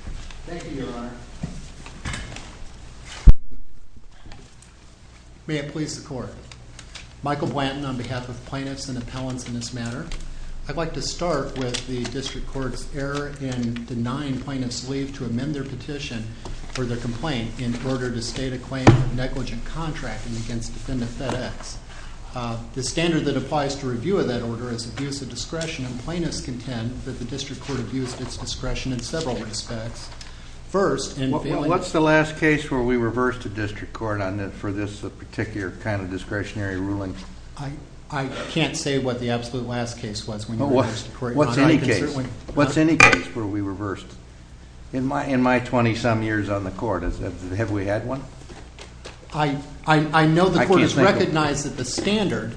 Thank you, Your Honor. May it please the Court. Michael Blanton on behalf of plaintiffs and appellants in this matter. I'd like to start with the District Court's error in denying plaintiffs' leave to amend their petition for their complaint in order to state a claim of negligent contracting against defendant FedEx. The standard that applies to review of that order is abuse of discretion, and plaintiffs contend that the District Court abused its discretion in several respects. What's the last case where we reversed the District Court for this particular kind of discretionary ruling? I can't say what the absolute last case was. What's any case where we reversed? In my 20-some years on the Court, have we had one? I know the Court has recognized that the standard,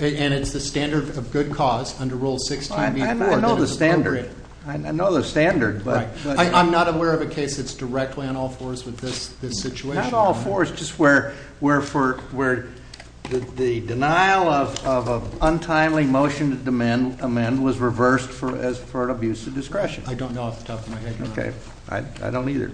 and it's the standard of good cause under Rule 16B, that it's appropriate. I know the standard. I'm not aware of a case that's directly on all fours with this situation. Not all fours, just where the denial of an untimely motion to amend was reversed for an abuse of discretion. I don't know off the top of my head, Your Honor. I don't either.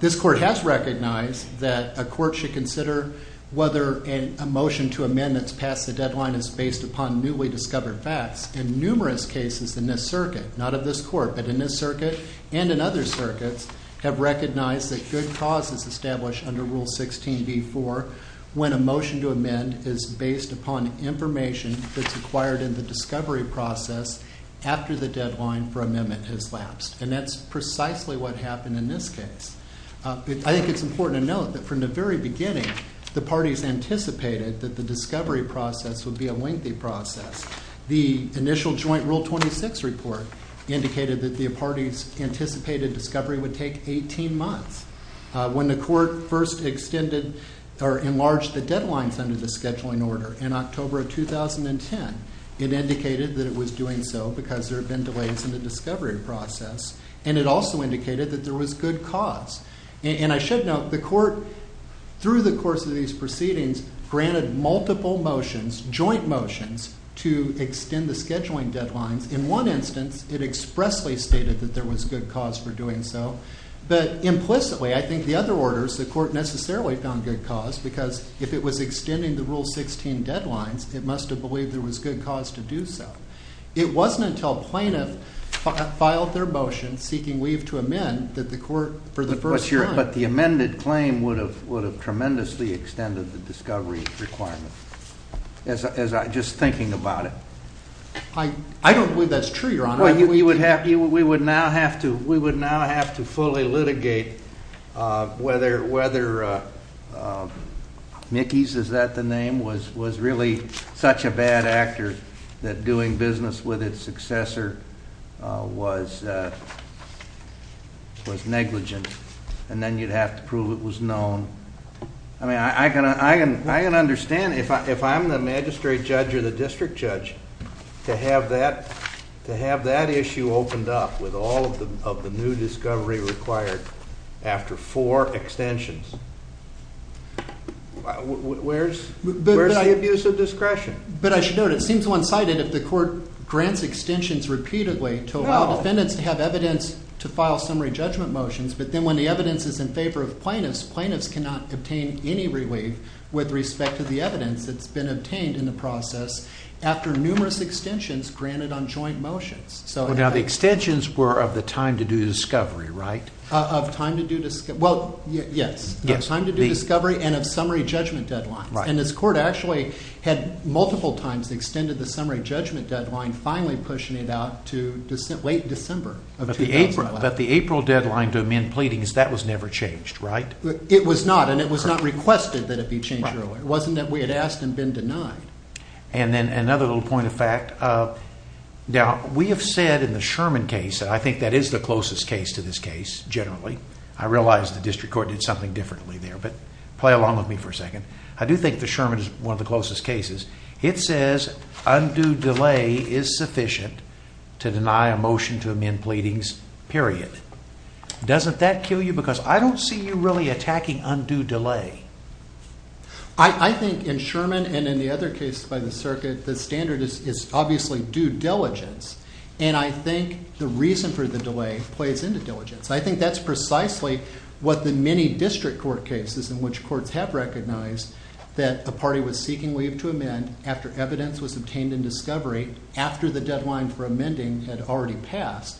This Court has recognized that a court should consider whether a motion to amend that's passed the deadline is based upon newly discovered facts. In numerous cases in this circuit, not of this Court, but in this circuit and in other circuits, have recognized that good cause is established under Rule 16B-4 when a motion to amend is based upon information that's acquired in the discovery process after the deadline for amendment has lapsed. And that's precisely what happened in this case. I think it's important to note that from the very beginning, the parties anticipated that the discovery process would be a lengthy process. The initial joint Rule 26 report indicated that the parties anticipated discovery would take 18 months. When the Court first enlarged the deadlines under the scheduling order in October of 2010, it indicated that it was doing so because there had been delays in the discovery process. And it also indicated that there was good cause. And I should note, the Court, through the course of these proceedings, granted multiple motions, joint motions, to extend the scheduling deadlines. In one instance, it expressly stated that there was good cause for doing so. But implicitly, I think the other orders, the Court necessarily found good cause because if it was extending the Rule 16 deadlines, it must have believed there was good cause to do so. It wasn't until plaintiff filed their motion seeking leave to amend that the Court, for the first time... But the amended claim would have tremendously extended the discovery requirement, just thinking about it. I don't believe that's true, Your Honor. We would now have to fully litigate whether Mickey's, is that the name, was really such a bad actor that doing business with its successor was negligent. And then you'd have to prove it was known. I mean, I can understand if I'm the magistrate judge or the district judge, to have that issue opened up with all of the new discovery required after four extensions. Where's the abuse of discretion? But I should note, it seems one-sided if the Court grants extensions repeatedly to allow defendants to have evidence to file summary judgment motions. But then when the evidence is in favor of plaintiffs, plaintiffs cannot obtain any relief with respect to the evidence that's been obtained in the process after numerous extensions granted on joint motions. Now, the extensions were of the time to do discovery, right? Of time to do discovery, well, yes. Of time to do discovery and of summary judgment deadlines. And this Court actually had multiple times extended the summary judgment deadline, finally pushing it out to late December of 2011. But the April deadline to amend pleadings, that was never changed, right? It was not, and it was not requested that it be changed earlier. It wasn't that we had asked and been denied. And then another little point of fact, now, we have said in the Sherman case, and I think that is the closest case to this case, generally. I realize the district court did something differently there, but play along with me for a second. I do think the Sherman is one of the closest cases. It says undue delay is sufficient to deny a motion to amend pleadings, period. Doesn't that kill you? Because I don't see you really attacking undue delay. I think in Sherman and in the other cases by the circuit, the standard is obviously due diligence. And I think the reason for the delay plays into diligence. I think that is precisely what the many district court cases in which courts have recognized that a party was seeking leave to amend after evidence was obtained in discovery after the deadline for amending had already passed,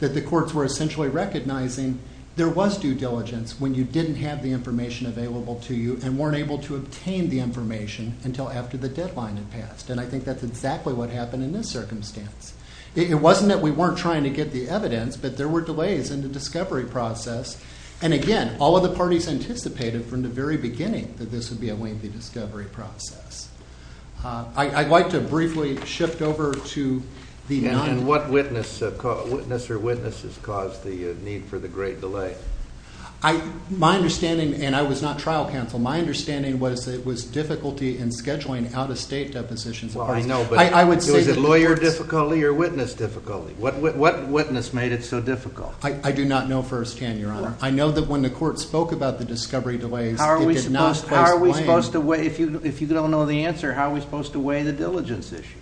that the courts were essentially recognizing there was due diligence when you didn't have the information available to you and weren't able to obtain the information until after the deadline had passed. And I think that is exactly what happened in this circumstance. It wasn't that we weren't trying to get the evidence, but there were delays in the discovery process. And again, all of the parties anticipated from the very beginning that this would be a lengthy discovery process. I'd like to briefly shift over to the non- And what witness or witnesses caused the need for the great delay? My understanding, and I was not trial counsel, my understanding was it was difficulty in scheduling out-of-state depositions. Well, I know, but was it lawyer difficulty or witness difficulty? What witness made it so difficult? I do not know firsthand, Your Honor. I know that when the court spoke about the discovery delays, it did not place blame. If you don't know the answer, how are we supposed to weigh the diligence issue?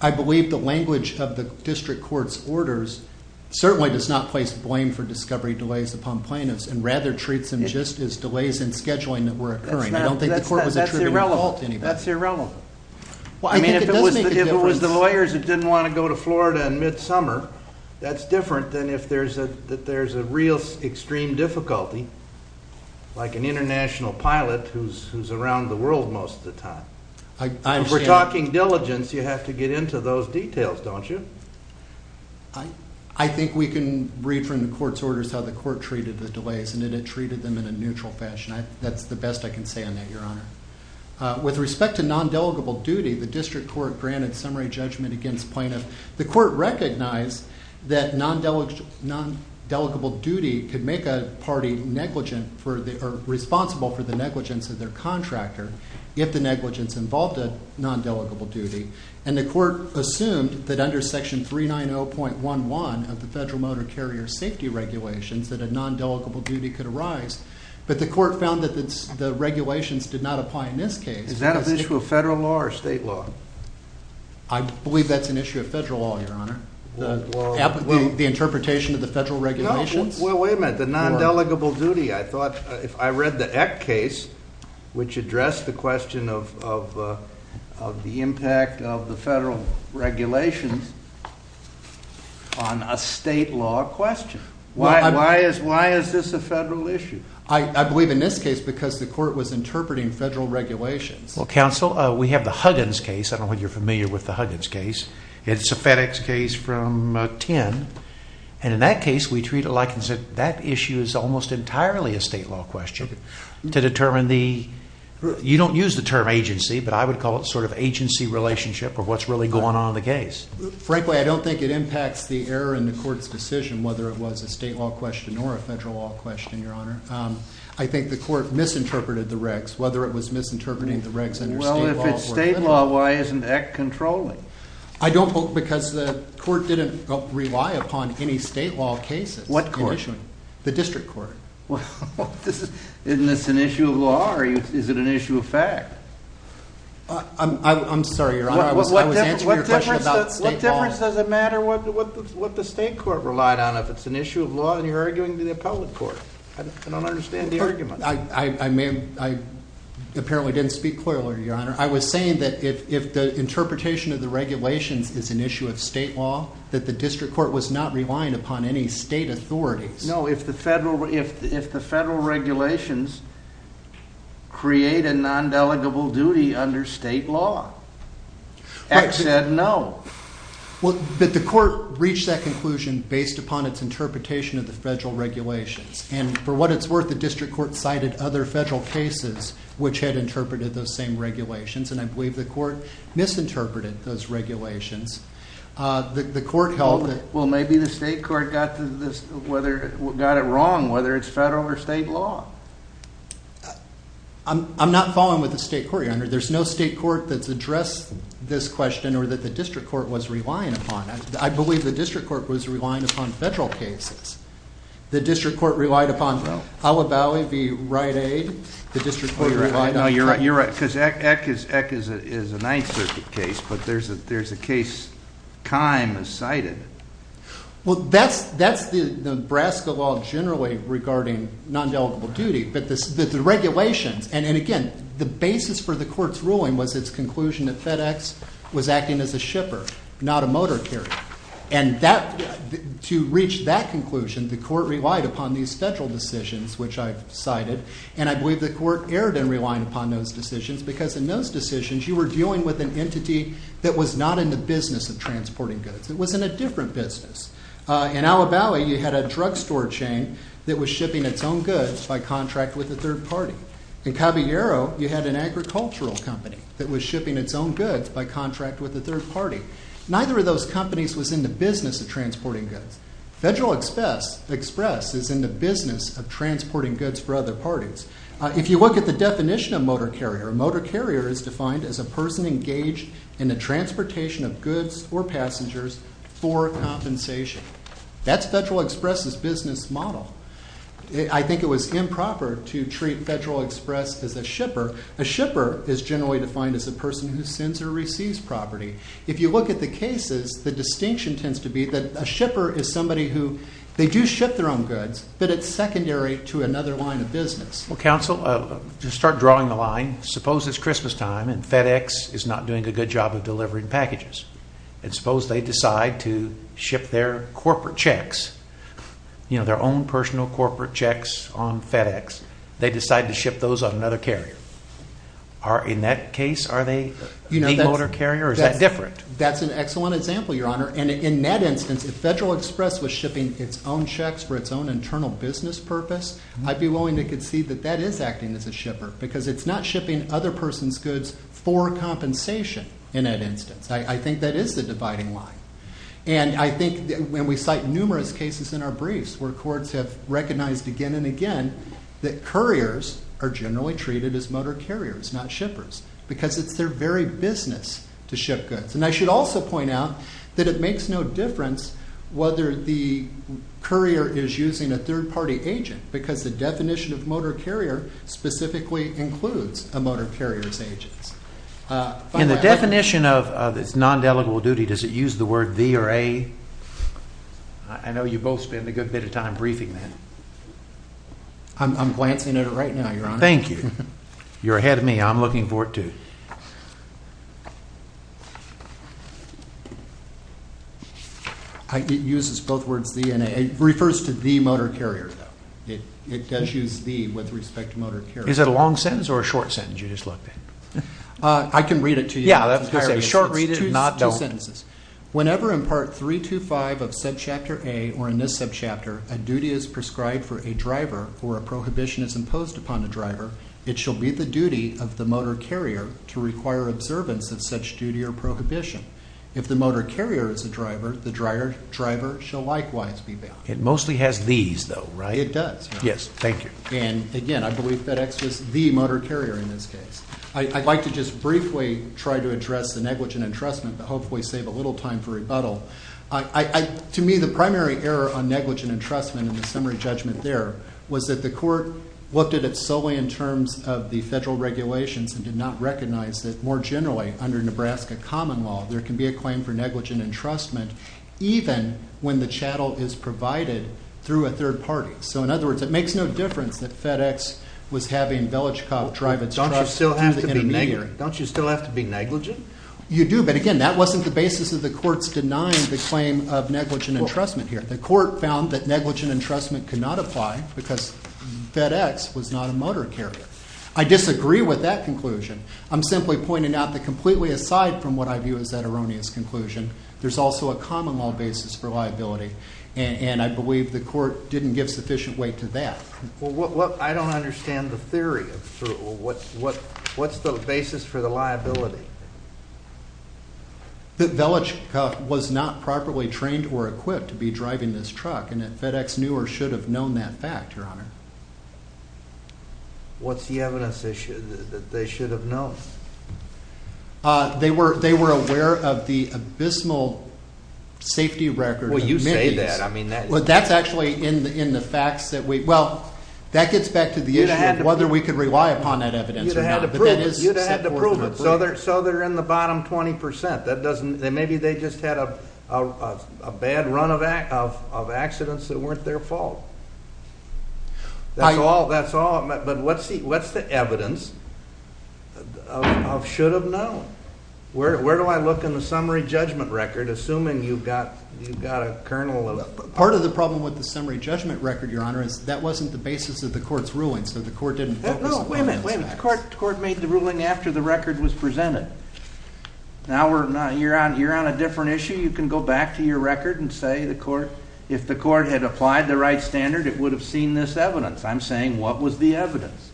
I believe the language of the district court's orders certainly does not place blame for discovery delays upon plaintiffs and rather treats them just as delays in scheduling that were occurring. I don't think the court was attributing the fault to anybody. That's irrelevant. I mean, if it was the lawyers that didn't want to go to Florida in midsummer, that's different than if there's a real extreme difficulty, like an international pilot who's around the world most of the time. If we're talking diligence, you have to get into those details, don't you? I think we can read from the court's orders how the court treated the delays, and it had treated them in a neutral fashion. That's the best I can say on that, Your Honor. With respect to nondelegable duty, the district court granted summary judgment against plaintiffs. The court recognized that nondelegable duty could make a party negligent or responsible for the negligence of their contractor if the negligence involved a nondelegable duty, and the court assumed that under Section 390.11 of the Federal Motor Carrier Safety Regulations that a nondelegable duty could arise, but the court found that the regulations did not apply in this case. Is that an issue of federal law or state law? I believe that's an issue of federal law, Your Honor. The interpretation of the federal regulations? Well, wait a minute. The nondelegable duty, I thought, if I read the Eck case, which addressed the question of the impact of the federal regulations on a state law question. Why is this a federal issue? I believe in this case because the court was interpreting federal regulations. Well, counsel, we have the Huggins case. I don't know whether you're familiar with the Huggins case. It's a FedEx case from 10, and in that case, we treat it like that issue is almost entirely a state law question to determine the, you don't use the term agency, but I would call it sort of agency relationship or what's really going on in the case. Frankly, I don't think it impacts the error in the court's decision, whether it was a state law question or a federal law question, Your Honor. I think the court misinterpreted the regs, whether it was misinterpreting the regs under state law. Well, if it's state law, why isn't Eck controlling? I don't know because the court didn't rely upon any state law cases. What court? The district court. Well, isn't this an issue of law or is it an issue of fact? I'm sorry, Your Honor. I was answering your question about state law. What difference does it matter what the state court relied on if it's an issue of law and you're arguing to the appellate court? I don't understand the argument. I apparently didn't speak clearly, Your Honor. I was saying that if the interpretation of the regulations is an issue of state law, that the district court was not relying upon any state authorities. No, if the federal regulations create a non-delegable duty under state law. Eck said no. But the court reached that conclusion based upon its interpretation of the federal regulations. And for what it's worth, the district court cited other federal cases which had interpreted those same regulations, and I believe the court misinterpreted those regulations. The court held that Well, maybe the state court got it wrong, whether it's federal or state law. I'm not following with the state court, Your Honor. There's no state court that's addressed this question or that the district court was relying upon. I believe the district court was relying upon federal cases. The district court relied upon Alibali v. Rite Aid. No, you're right, you're right, because Eck is a Ninth Circuit case, but there's a case Kime has cited. Well, that's Nebraska law generally regarding non-delegable duty, but the regulations, and again, the basis for the court's ruling was its conclusion that FedEx was acting as a shipper, not a motor carrier. And to reach that conclusion, the court relied upon these federal decisions, which I've cited, and I believe the court erred in relying upon those decisions because in those decisions, you were dealing with an entity that was not in the business of transporting goods. It was in a different business. In Alibali, you had a drugstore chain that was shipping its own goods by contract with a third party. In Caballero, you had an agricultural company that was shipping its own goods by contract with a third party. Neither of those companies was in the business of transporting goods. Federal Express is in the business of transporting goods for other parties. If you look at the definition of motor carrier, a motor carrier is defined as a person engaged in the transportation of goods or passengers for compensation. That's Federal Express's business model. I think it was improper to treat Federal Express as a shipper. A shipper is generally defined as a person who sends or receives property. If you look at the cases, the distinction tends to be that a shipper is somebody who they do ship their own goods, but it's secondary to another line of business. Counsel, to start drawing the line, suppose it's Christmas time and FedEx is not doing a good job of delivering packages. Suppose they decide to ship their corporate checks, their own personal corporate checks on FedEx. They decide to ship those on another carrier. In that case, are they the motor carrier or is that different? That's an excellent example, Your Honor. In that instance, if Federal Express was shipping its own checks for its own internal business purpose, I'd be willing to concede that that is acting as a shipper because it's not shipping other person's goods for compensation in that instance. I think that is the dividing line. I think when we cite numerous cases in our briefs where courts have recognized again and again that couriers are generally treated as motor carriers, not shippers, because it's their very business to ship goods. I should also point out that it makes no difference whether the courier is using a third-party agent because the definition of motor carrier specifically includes a motor carrier's agents. In the definition of non-delegable duty, does it use the word V or A? I know you both spend a good bit of time briefing that. I'm glancing at it right now, Your Honor. Thank you. You're ahead of me. I'm looking forward to it. It uses both words V and A. It refers to the motor carrier, though. It does use V with respect to motor carrier. Is it a long sentence or a short sentence you just looked at? I can read it to you. Yeah, that's what I was going to say. Short read it and not don't. It's two sentences. Whenever in Part 325 of Subchapter A or in this subchapter a duty is prescribed for a driver or a prohibition is imposed upon a driver, it shall be the duty of the motor carrier to require observance of such duty or prohibition. If the motor carrier is a driver, the driver shall likewise be bound. It mostly has these, though, right? It does, Your Honor. Yes, thank you. Again, I believe FedEx was the motor carrier in this case. I'd like to just briefly try to address the negligent entrustment to hopefully save a little time for rebuttal. To me, the primary error on negligent entrustment in the summary judgment there was that the court looked at it solely in terms of the federal regulations and did not recognize that more generally under Nebraska common law there can be a claim for negligent entrustment even when the chattel is provided through a third party. So, in other words, it makes no difference that FedEx was having Belichcock drive its truck through the intermediary. Don't you still have to be negligent? You do, but again, that wasn't the basis of the court's denying the claim of negligent entrustment here. The court found that negligent entrustment could not apply because FedEx was not a motor carrier. I disagree with that conclusion. I'm simply pointing out that completely aside from what I view as that erroneous conclusion, there's also a common law basis for liability and I believe the court didn't give sufficient weight to that. Well, I don't understand the theory. What's the basis for the liability? That Belichcock was not properly trained or equipped to be driving this truck and that FedEx knew or should have known that fact, Your Honor. What's the evidence that they should have known? They were aware of the abysmal safety record. Well, you say that. That's actually in the facts that we... Well, that gets back to the issue of whether we could rely upon that evidence or not. You'd have had to prove it. So they're in the bottom 20%. Maybe they just had a bad run of accidents that weren't their fault. That's all. But what's the evidence of should have known? Where do I look in the summary judgment record assuming you've got a kernel of... Part of the problem with the summary judgment record, Your Honor, is that wasn't the basis of the court's ruling so the court didn't focus on... No, wait a minute. The court made the ruling after the record was presented. Now you're on a different issue. You can go back to your record and say if the court had applied the right standard, it would have seen this evidence. I'm saying what was the evidence?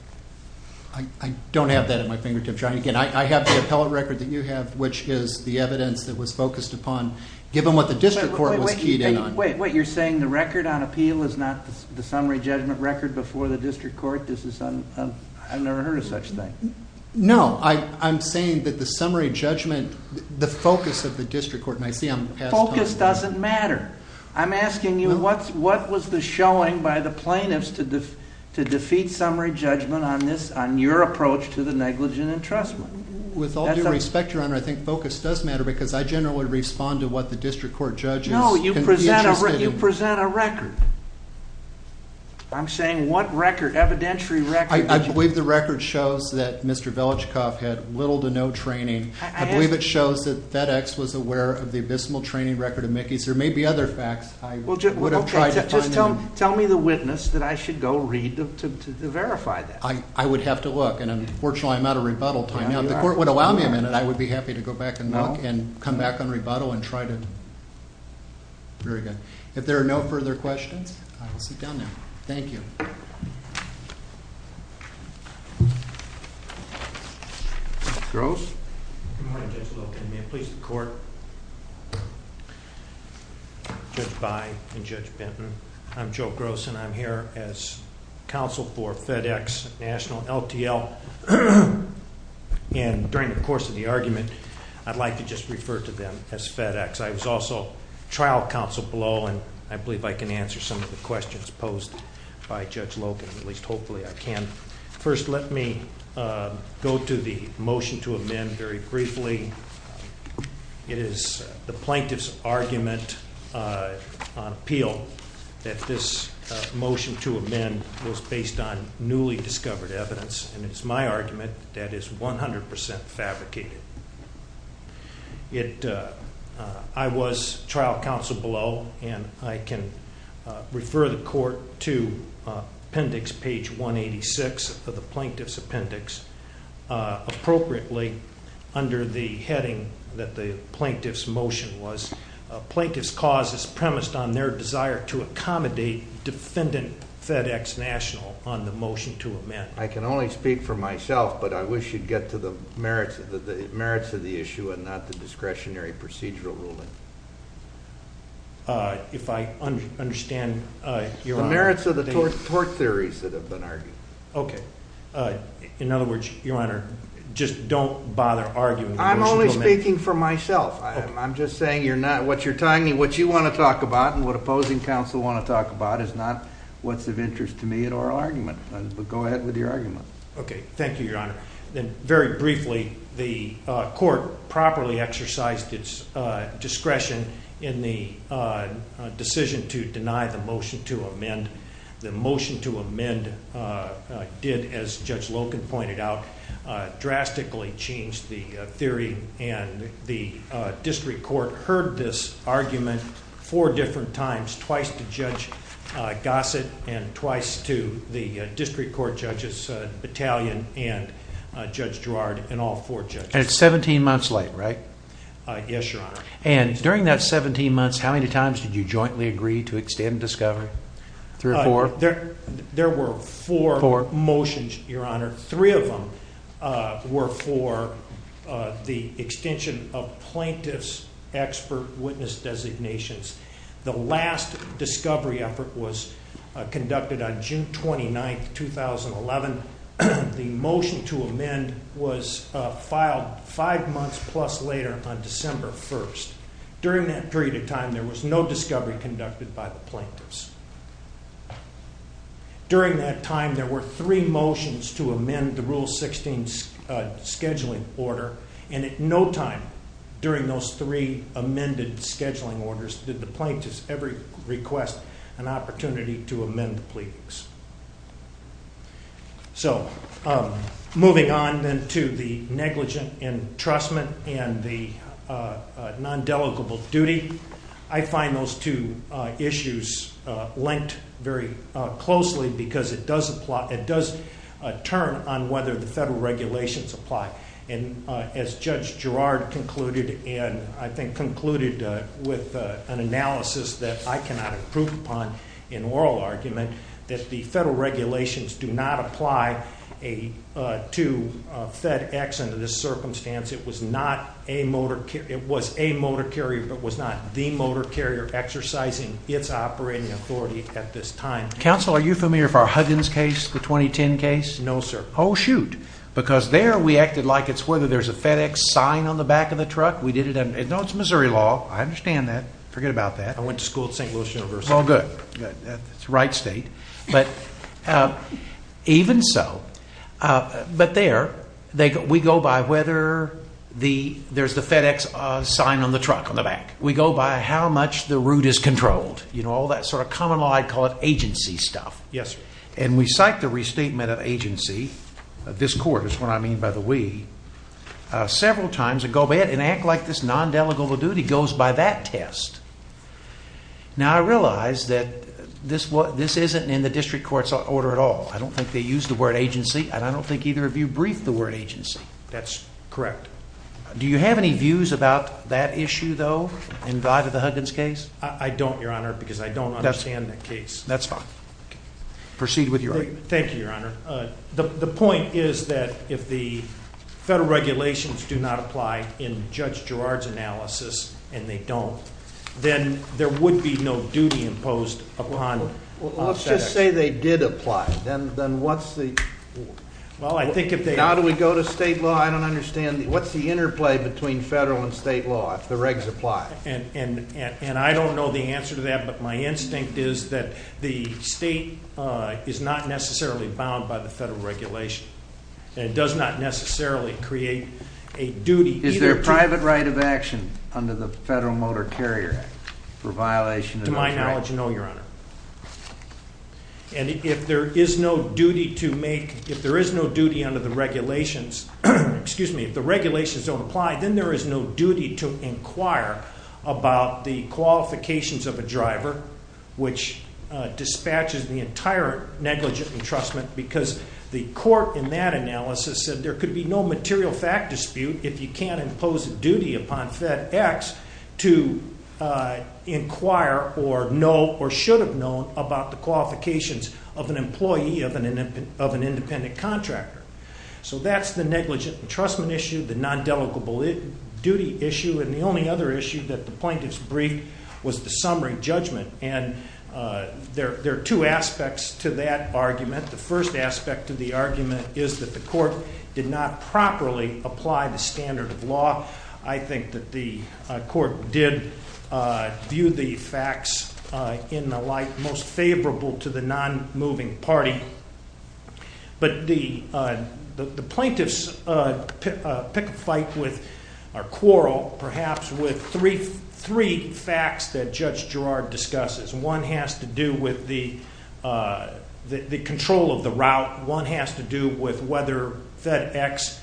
I don't have that at my fingertips, Your Honor. Again, I have the appellate record that you have, which is the evidence that was focused upon given what the district court was keyed in on. Wait, wait. You're saying the record on appeal is not the summary judgment record before the district court? I've never heard of such a thing. No. I'm saying that the summary judgment, the focus of the district court... Focus doesn't matter. I'm asking you what was the showing by the plaintiffs to defeat summary judgment on your approach to the negligent entrustment? With all due respect, Your Honor, I think focus does matter because I generally respond to what the district court judges... No, you present a record. I'm saying what record, evidentiary record... I believe the record shows that Mr. Velichkov had little to no training. I believe it shows that FedEx was aware of the abysmal training record of Mickey's. There may be other facts I would have tried to find out. Okay, just tell me the witness that I should go read to verify that. I would have to look, and unfortunately I'm out of rebuttal time. Now, if the court would allow me a minute, I would be happy to go back and look and come back on rebuttal and try to... Very good. If there are no further questions, I will sit down now. Thank you. Gross? Good morning, Judge Little. May it please the court. Judge By and Judge Benton. I'm Joe Gross, and I'm here as counsel for FedEx National LTL. And during the course of the argument, I'd like to just refer to them as FedEx. I was also trial counsel below, and I believe I can answer some of the questions posed by Judge Logan, at least hopefully I can. First, let me go to the motion to amend very briefly. It is the plaintiff's argument on appeal that this motion to amend was based on newly discovered evidence, and it's my argument that is 100% fabricated. I was trial counsel below, and I can refer the court to appendix page 186 of the plaintiff's appendix appropriately under the heading that the plaintiff's motion was. Plaintiff's cause is premised on their desire to accommodate defendant FedEx National on the motion to amend. I can only speak for myself, but I wish you'd get to the merits of the issue and not the discretionary procedural ruling. If I understand your argument. The merits of the tort theories that have been argued. Okay. In other words, Your Honor, just don't bother arguing the motion to amend. I'm only speaking for myself. I'm just saying what you want to talk about and what opposing counsel want to talk about is not what's of interest to me in oral argument. Go ahead with your argument. Okay. Thank you, Your Honor. Very briefly, the court properly exercised its discretion in the decision to deny the motion to amend. The motion to amend did, as Judge Loken pointed out, drastically change the theory. And the district court heard this argument four different times, twice to Judge Gossett and twice to the district court judges battalion and Judge Girard and all four judges. And it's 17 months late, right? Yes, Your Honor. And during that 17 months, how many times did you jointly agree to extend discovery? Three or four? There were four motions, Your Honor. Three of them were for the extension of plaintiff's expert witness designations. The last discovery effort was conducted on June 29, 2011. The motion to amend was filed During that period of time, there was no discovery conducted by the plaintiffs. During that time, there were three motions to amend the Rule 16 scheduling order, and at no time during those three amended scheduling orders did the plaintiffs ever request an opportunity to amend the pleadings. So moving on then to the negligent entrustment and the non-delegable duty, I find those two issues linked very closely because it does turn on whether the federal regulations apply. And as Judge Girard concluded, and I think concluded with an analysis that I cannot improve upon in oral argument, that the federal regulations do not apply to FedEx under this circumstance. It was a motor carrier, but was not the motor carrier exercising its operating authority at this time. Counsel, are you familiar with our Huggins case, the 2010 case? No, sir. Oh, shoot. Because there we acted like it's whether there's a FedEx sign on the back of the truck. No, it's Missouri law. I understand that. Forget about that. I went to school at St. Louis University. Oh, good. That's the right state. Even so, but there, we go by whether there's the FedEx sign on the truck on the back. We go by how much the route is controlled. You know, all that sort of common law, I'd call it agency stuff. Yes, sir. And we cite the restatement of agency, this court is what I mean by the we, several times and act like this non-delegable duty goes by that test. Now, I realize that this wasn't, this isn't in the district court's order at all. I don't think they used the word agency, and I don't think either of you briefed the word agency. That's correct. Do you have any views about that issue, though, in Vive of the Huggins case? I don't, Your Honor, because I don't understand the case. That's fine. Proceed with your argument. Thank you, Your Honor. The point is that if the federal regulations do not apply in Judge Girard's analysis, and they don't, then there would be no duty imposed upon them. Well, let's just say they did apply. Then what's the... Well, I think if they... Now do we go to state law? I don't understand. What's the interplay between federal and state law if the regs apply? And I don't know the answer to that, but my instinct is that the state is not necessarily bound by the federal regulation, and it does not necessarily create a duty either to... To my knowledge, no, Your Honor. And if there is no duty to make... If there is no duty under the regulations... Excuse me. If the regulations don't apply, then there is no duty to inquire about the qualifications of a driver, which dispatches the entire negligent entrustment, because the court in that analysis said there could be no material fact dispute if you can't impose a duty upon FedEx to inquire or know or should have known about the qualifications of an employee of an independent contractor. So that's the negligent entrustment issue, the non-delicable duty issue, and the only other issue that the plaintiffs briefed was the summary judgment. And there are two aspects to that argument. The first aspect of the argument is that the court did not properly apply the standard of law. I think that the court did view the facts in the light most favorable to the non-moving party. But the plaintiffs pick a fight with, or quarrel perhaps, with three facts that Judge Girard discusses. One has to do with the control of the route. One has to do with whether FedEx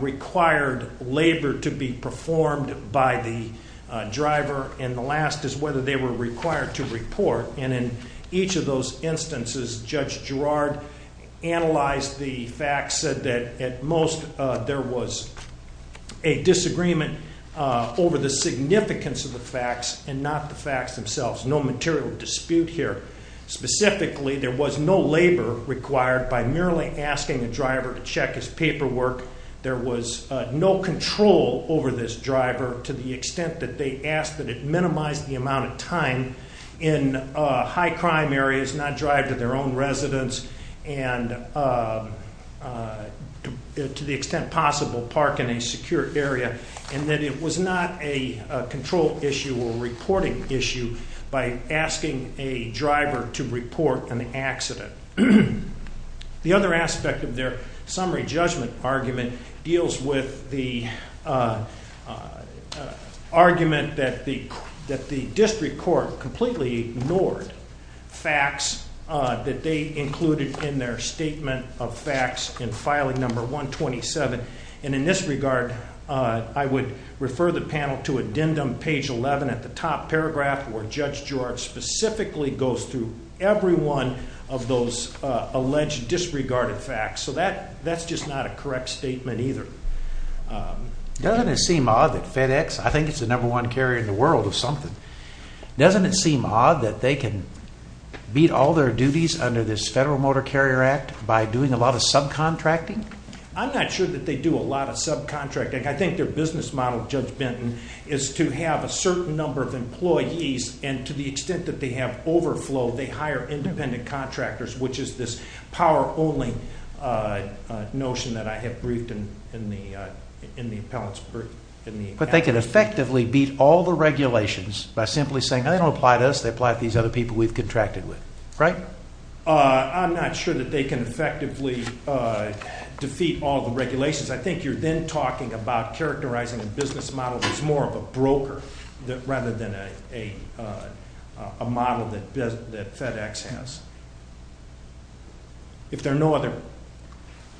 required labor to be performed by the driver. And the last is whether they were required to report. And in each of those instances, Judge Girard analyzed the facts, said that at most there was a disagreement over the significance of the facts and not the facts themselves. No material dispute here. Specifically, there was no labor required by merely asking a driver to check his paperwork. There was no control over this driver to the extent that they asked that it minimize the amount of time in high-crime areas, not drive to their own residence, and to the extent possible, park in a secure area. And that it was not a control issue or reporting issue by asking a driver to report an accident. The other aspect of their summary judgment argument deals with the argument that the district court completely ignored facts that they included in their statement of facts in filing number 127. And in this regard, I would refer the panel to addendum page 11 at the top paragraph where Judge Girard specifically goes through every one of those alleged disregarded facts. So that's just not a correct statement either. Doesn't it seem odd that FedEx, I think it's the number one carrier in the world of something, doesn't it seem odd that they can beat all their duties under this Federal Motor Carrier Act by doing a lot of subcontracting? I'm not sure that they do a lot of subcontracting. I think their business model, Judge Benton, is to have a certain number of employees and to the extent that they have overflow, they hire independent contractors, which is this power-owning notion that I have briefed in the appellate's brief. But they can effectively beat all the regulations by simply saying they don't apply to us, they apply to these other people we've contracted with, right? I'm not sure that they can effectively defeat all the regulations. I think you're then talking about characterizing the business model as more of a broker rather than a model that FedEx has. If there are no other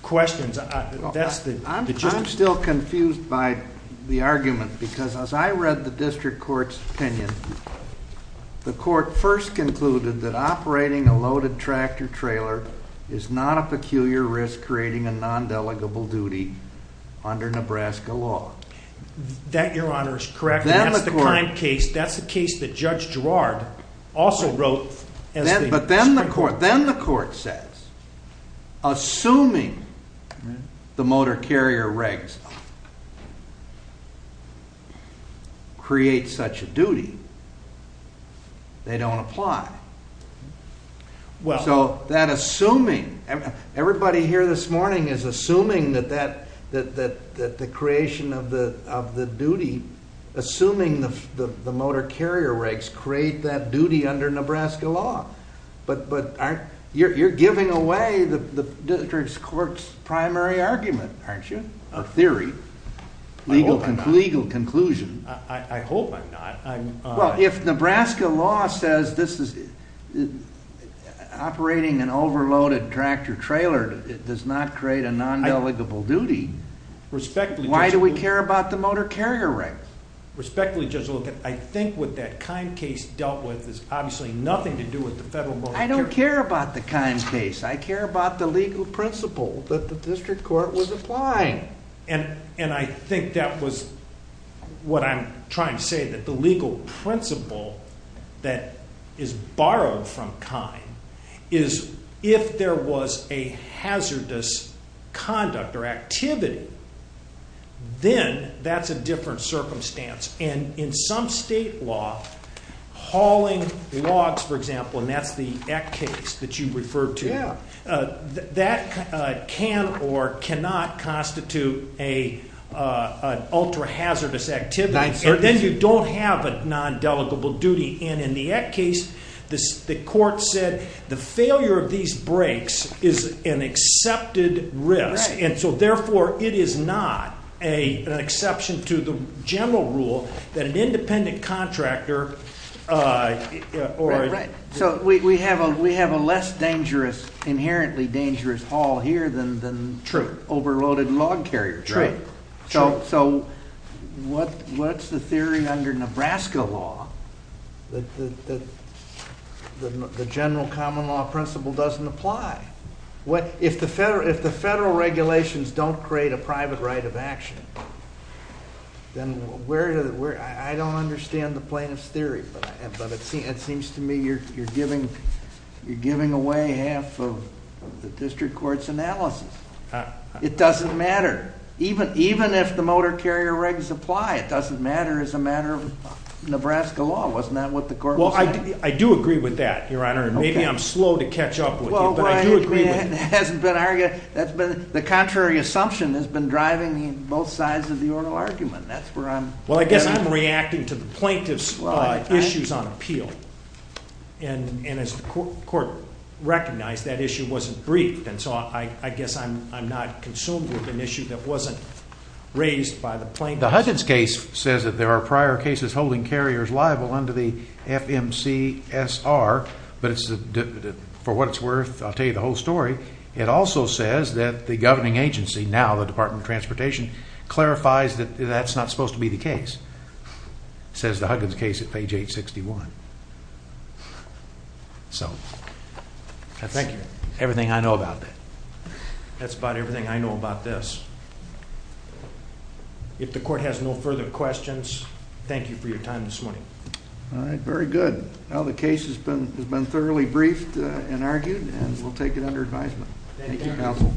questions, that's the judgment. I'm still confused by the argument because as I read the district court's opinion, the court first concluded that operating a loaded tractor-trailer is not a peculiar risk creating a non-delegable duty under Nebraska law. That, Your Honor, is correct. That's the kind of case that Judge Girard also wrote as the district court. But then the court says, assuming the motor carrier regs create such a duty, they don't apply. So that assuming... Everybody here this morning is assuming that the creation of the duty, assuming the motor carrier regs create that duty under Nebraska law. But you're giving away the district court's primary argument, aren't you? A theory, legal conclusion. I hope I'm not. Well, if Nebraska law says operating an overloaded tractor-trailer does not create a non-delegable duty, why do we care about the motor carrier regs? Respectfully, Judge Lueken, I think what that Kine case dealt with is obviously nothing to do with the federal motor carrier regs. I don't care about the Kine case. I care about the legal principle that the district court was applying. And I think that was what I'm trying to say, that the legal principle that is borrowed from Kine is if there was a hazardous conduct or activity, then that's a different circumstance. And in some state law, hauling logs, for example, and that's the Eck case that you referred to, that can or cannot constitute an ultra-hazardous activity. And then you don't have a non-delegable duty. And in the Eck case, the court said the failure of these brakes is an accepted risk. And so therefore, it is not an exception to the general rule that an independent contractor... So we have a less dangerous, inherently dangerous haul here than overloaded log carriers. So what's the theory under Nebraska law that the general common law principle doesn't apply? If the federal regulations don't create a private right of action, then where... I don't understand the plaintiff's theory, but it seems to me you're giving away half of the district court's analysis. It doesn't matter. Even if the motor carrier regs apply, it doesn't matter as a matter of Nebraska law. Wasn't that what the court was saying? Well, I do agree with that, Your Honor, and maybe I'm slow to catch up with you, but I do agree with you. The contrary assumption has been driving both sides of the oral argument. That's where I'm... Well, I guess I'm reacting to the plaintiff's issues on appeal. And as the court recognized, that issue wasn't briefed. And so I guess I'm not consumed with an issue that wasn't raised by the plaintiff. The Huggins case says that there are prior cases holding carriers liable under the FMCSR, but for what it's worth, I'll tell you the whole story. It also says that the governing agency, now the Department of Transportation, clarifies that that's not supposed to be the case, says the Huggins case at page 861. So, I thank you. Everything I know about that. That's about everything I know about this. If the court has no further questions, thank you for your time this morning. All right, very good. Now the case has been thoroughly briefed and argued, and we'll take it under advisement. Thank you, counsel.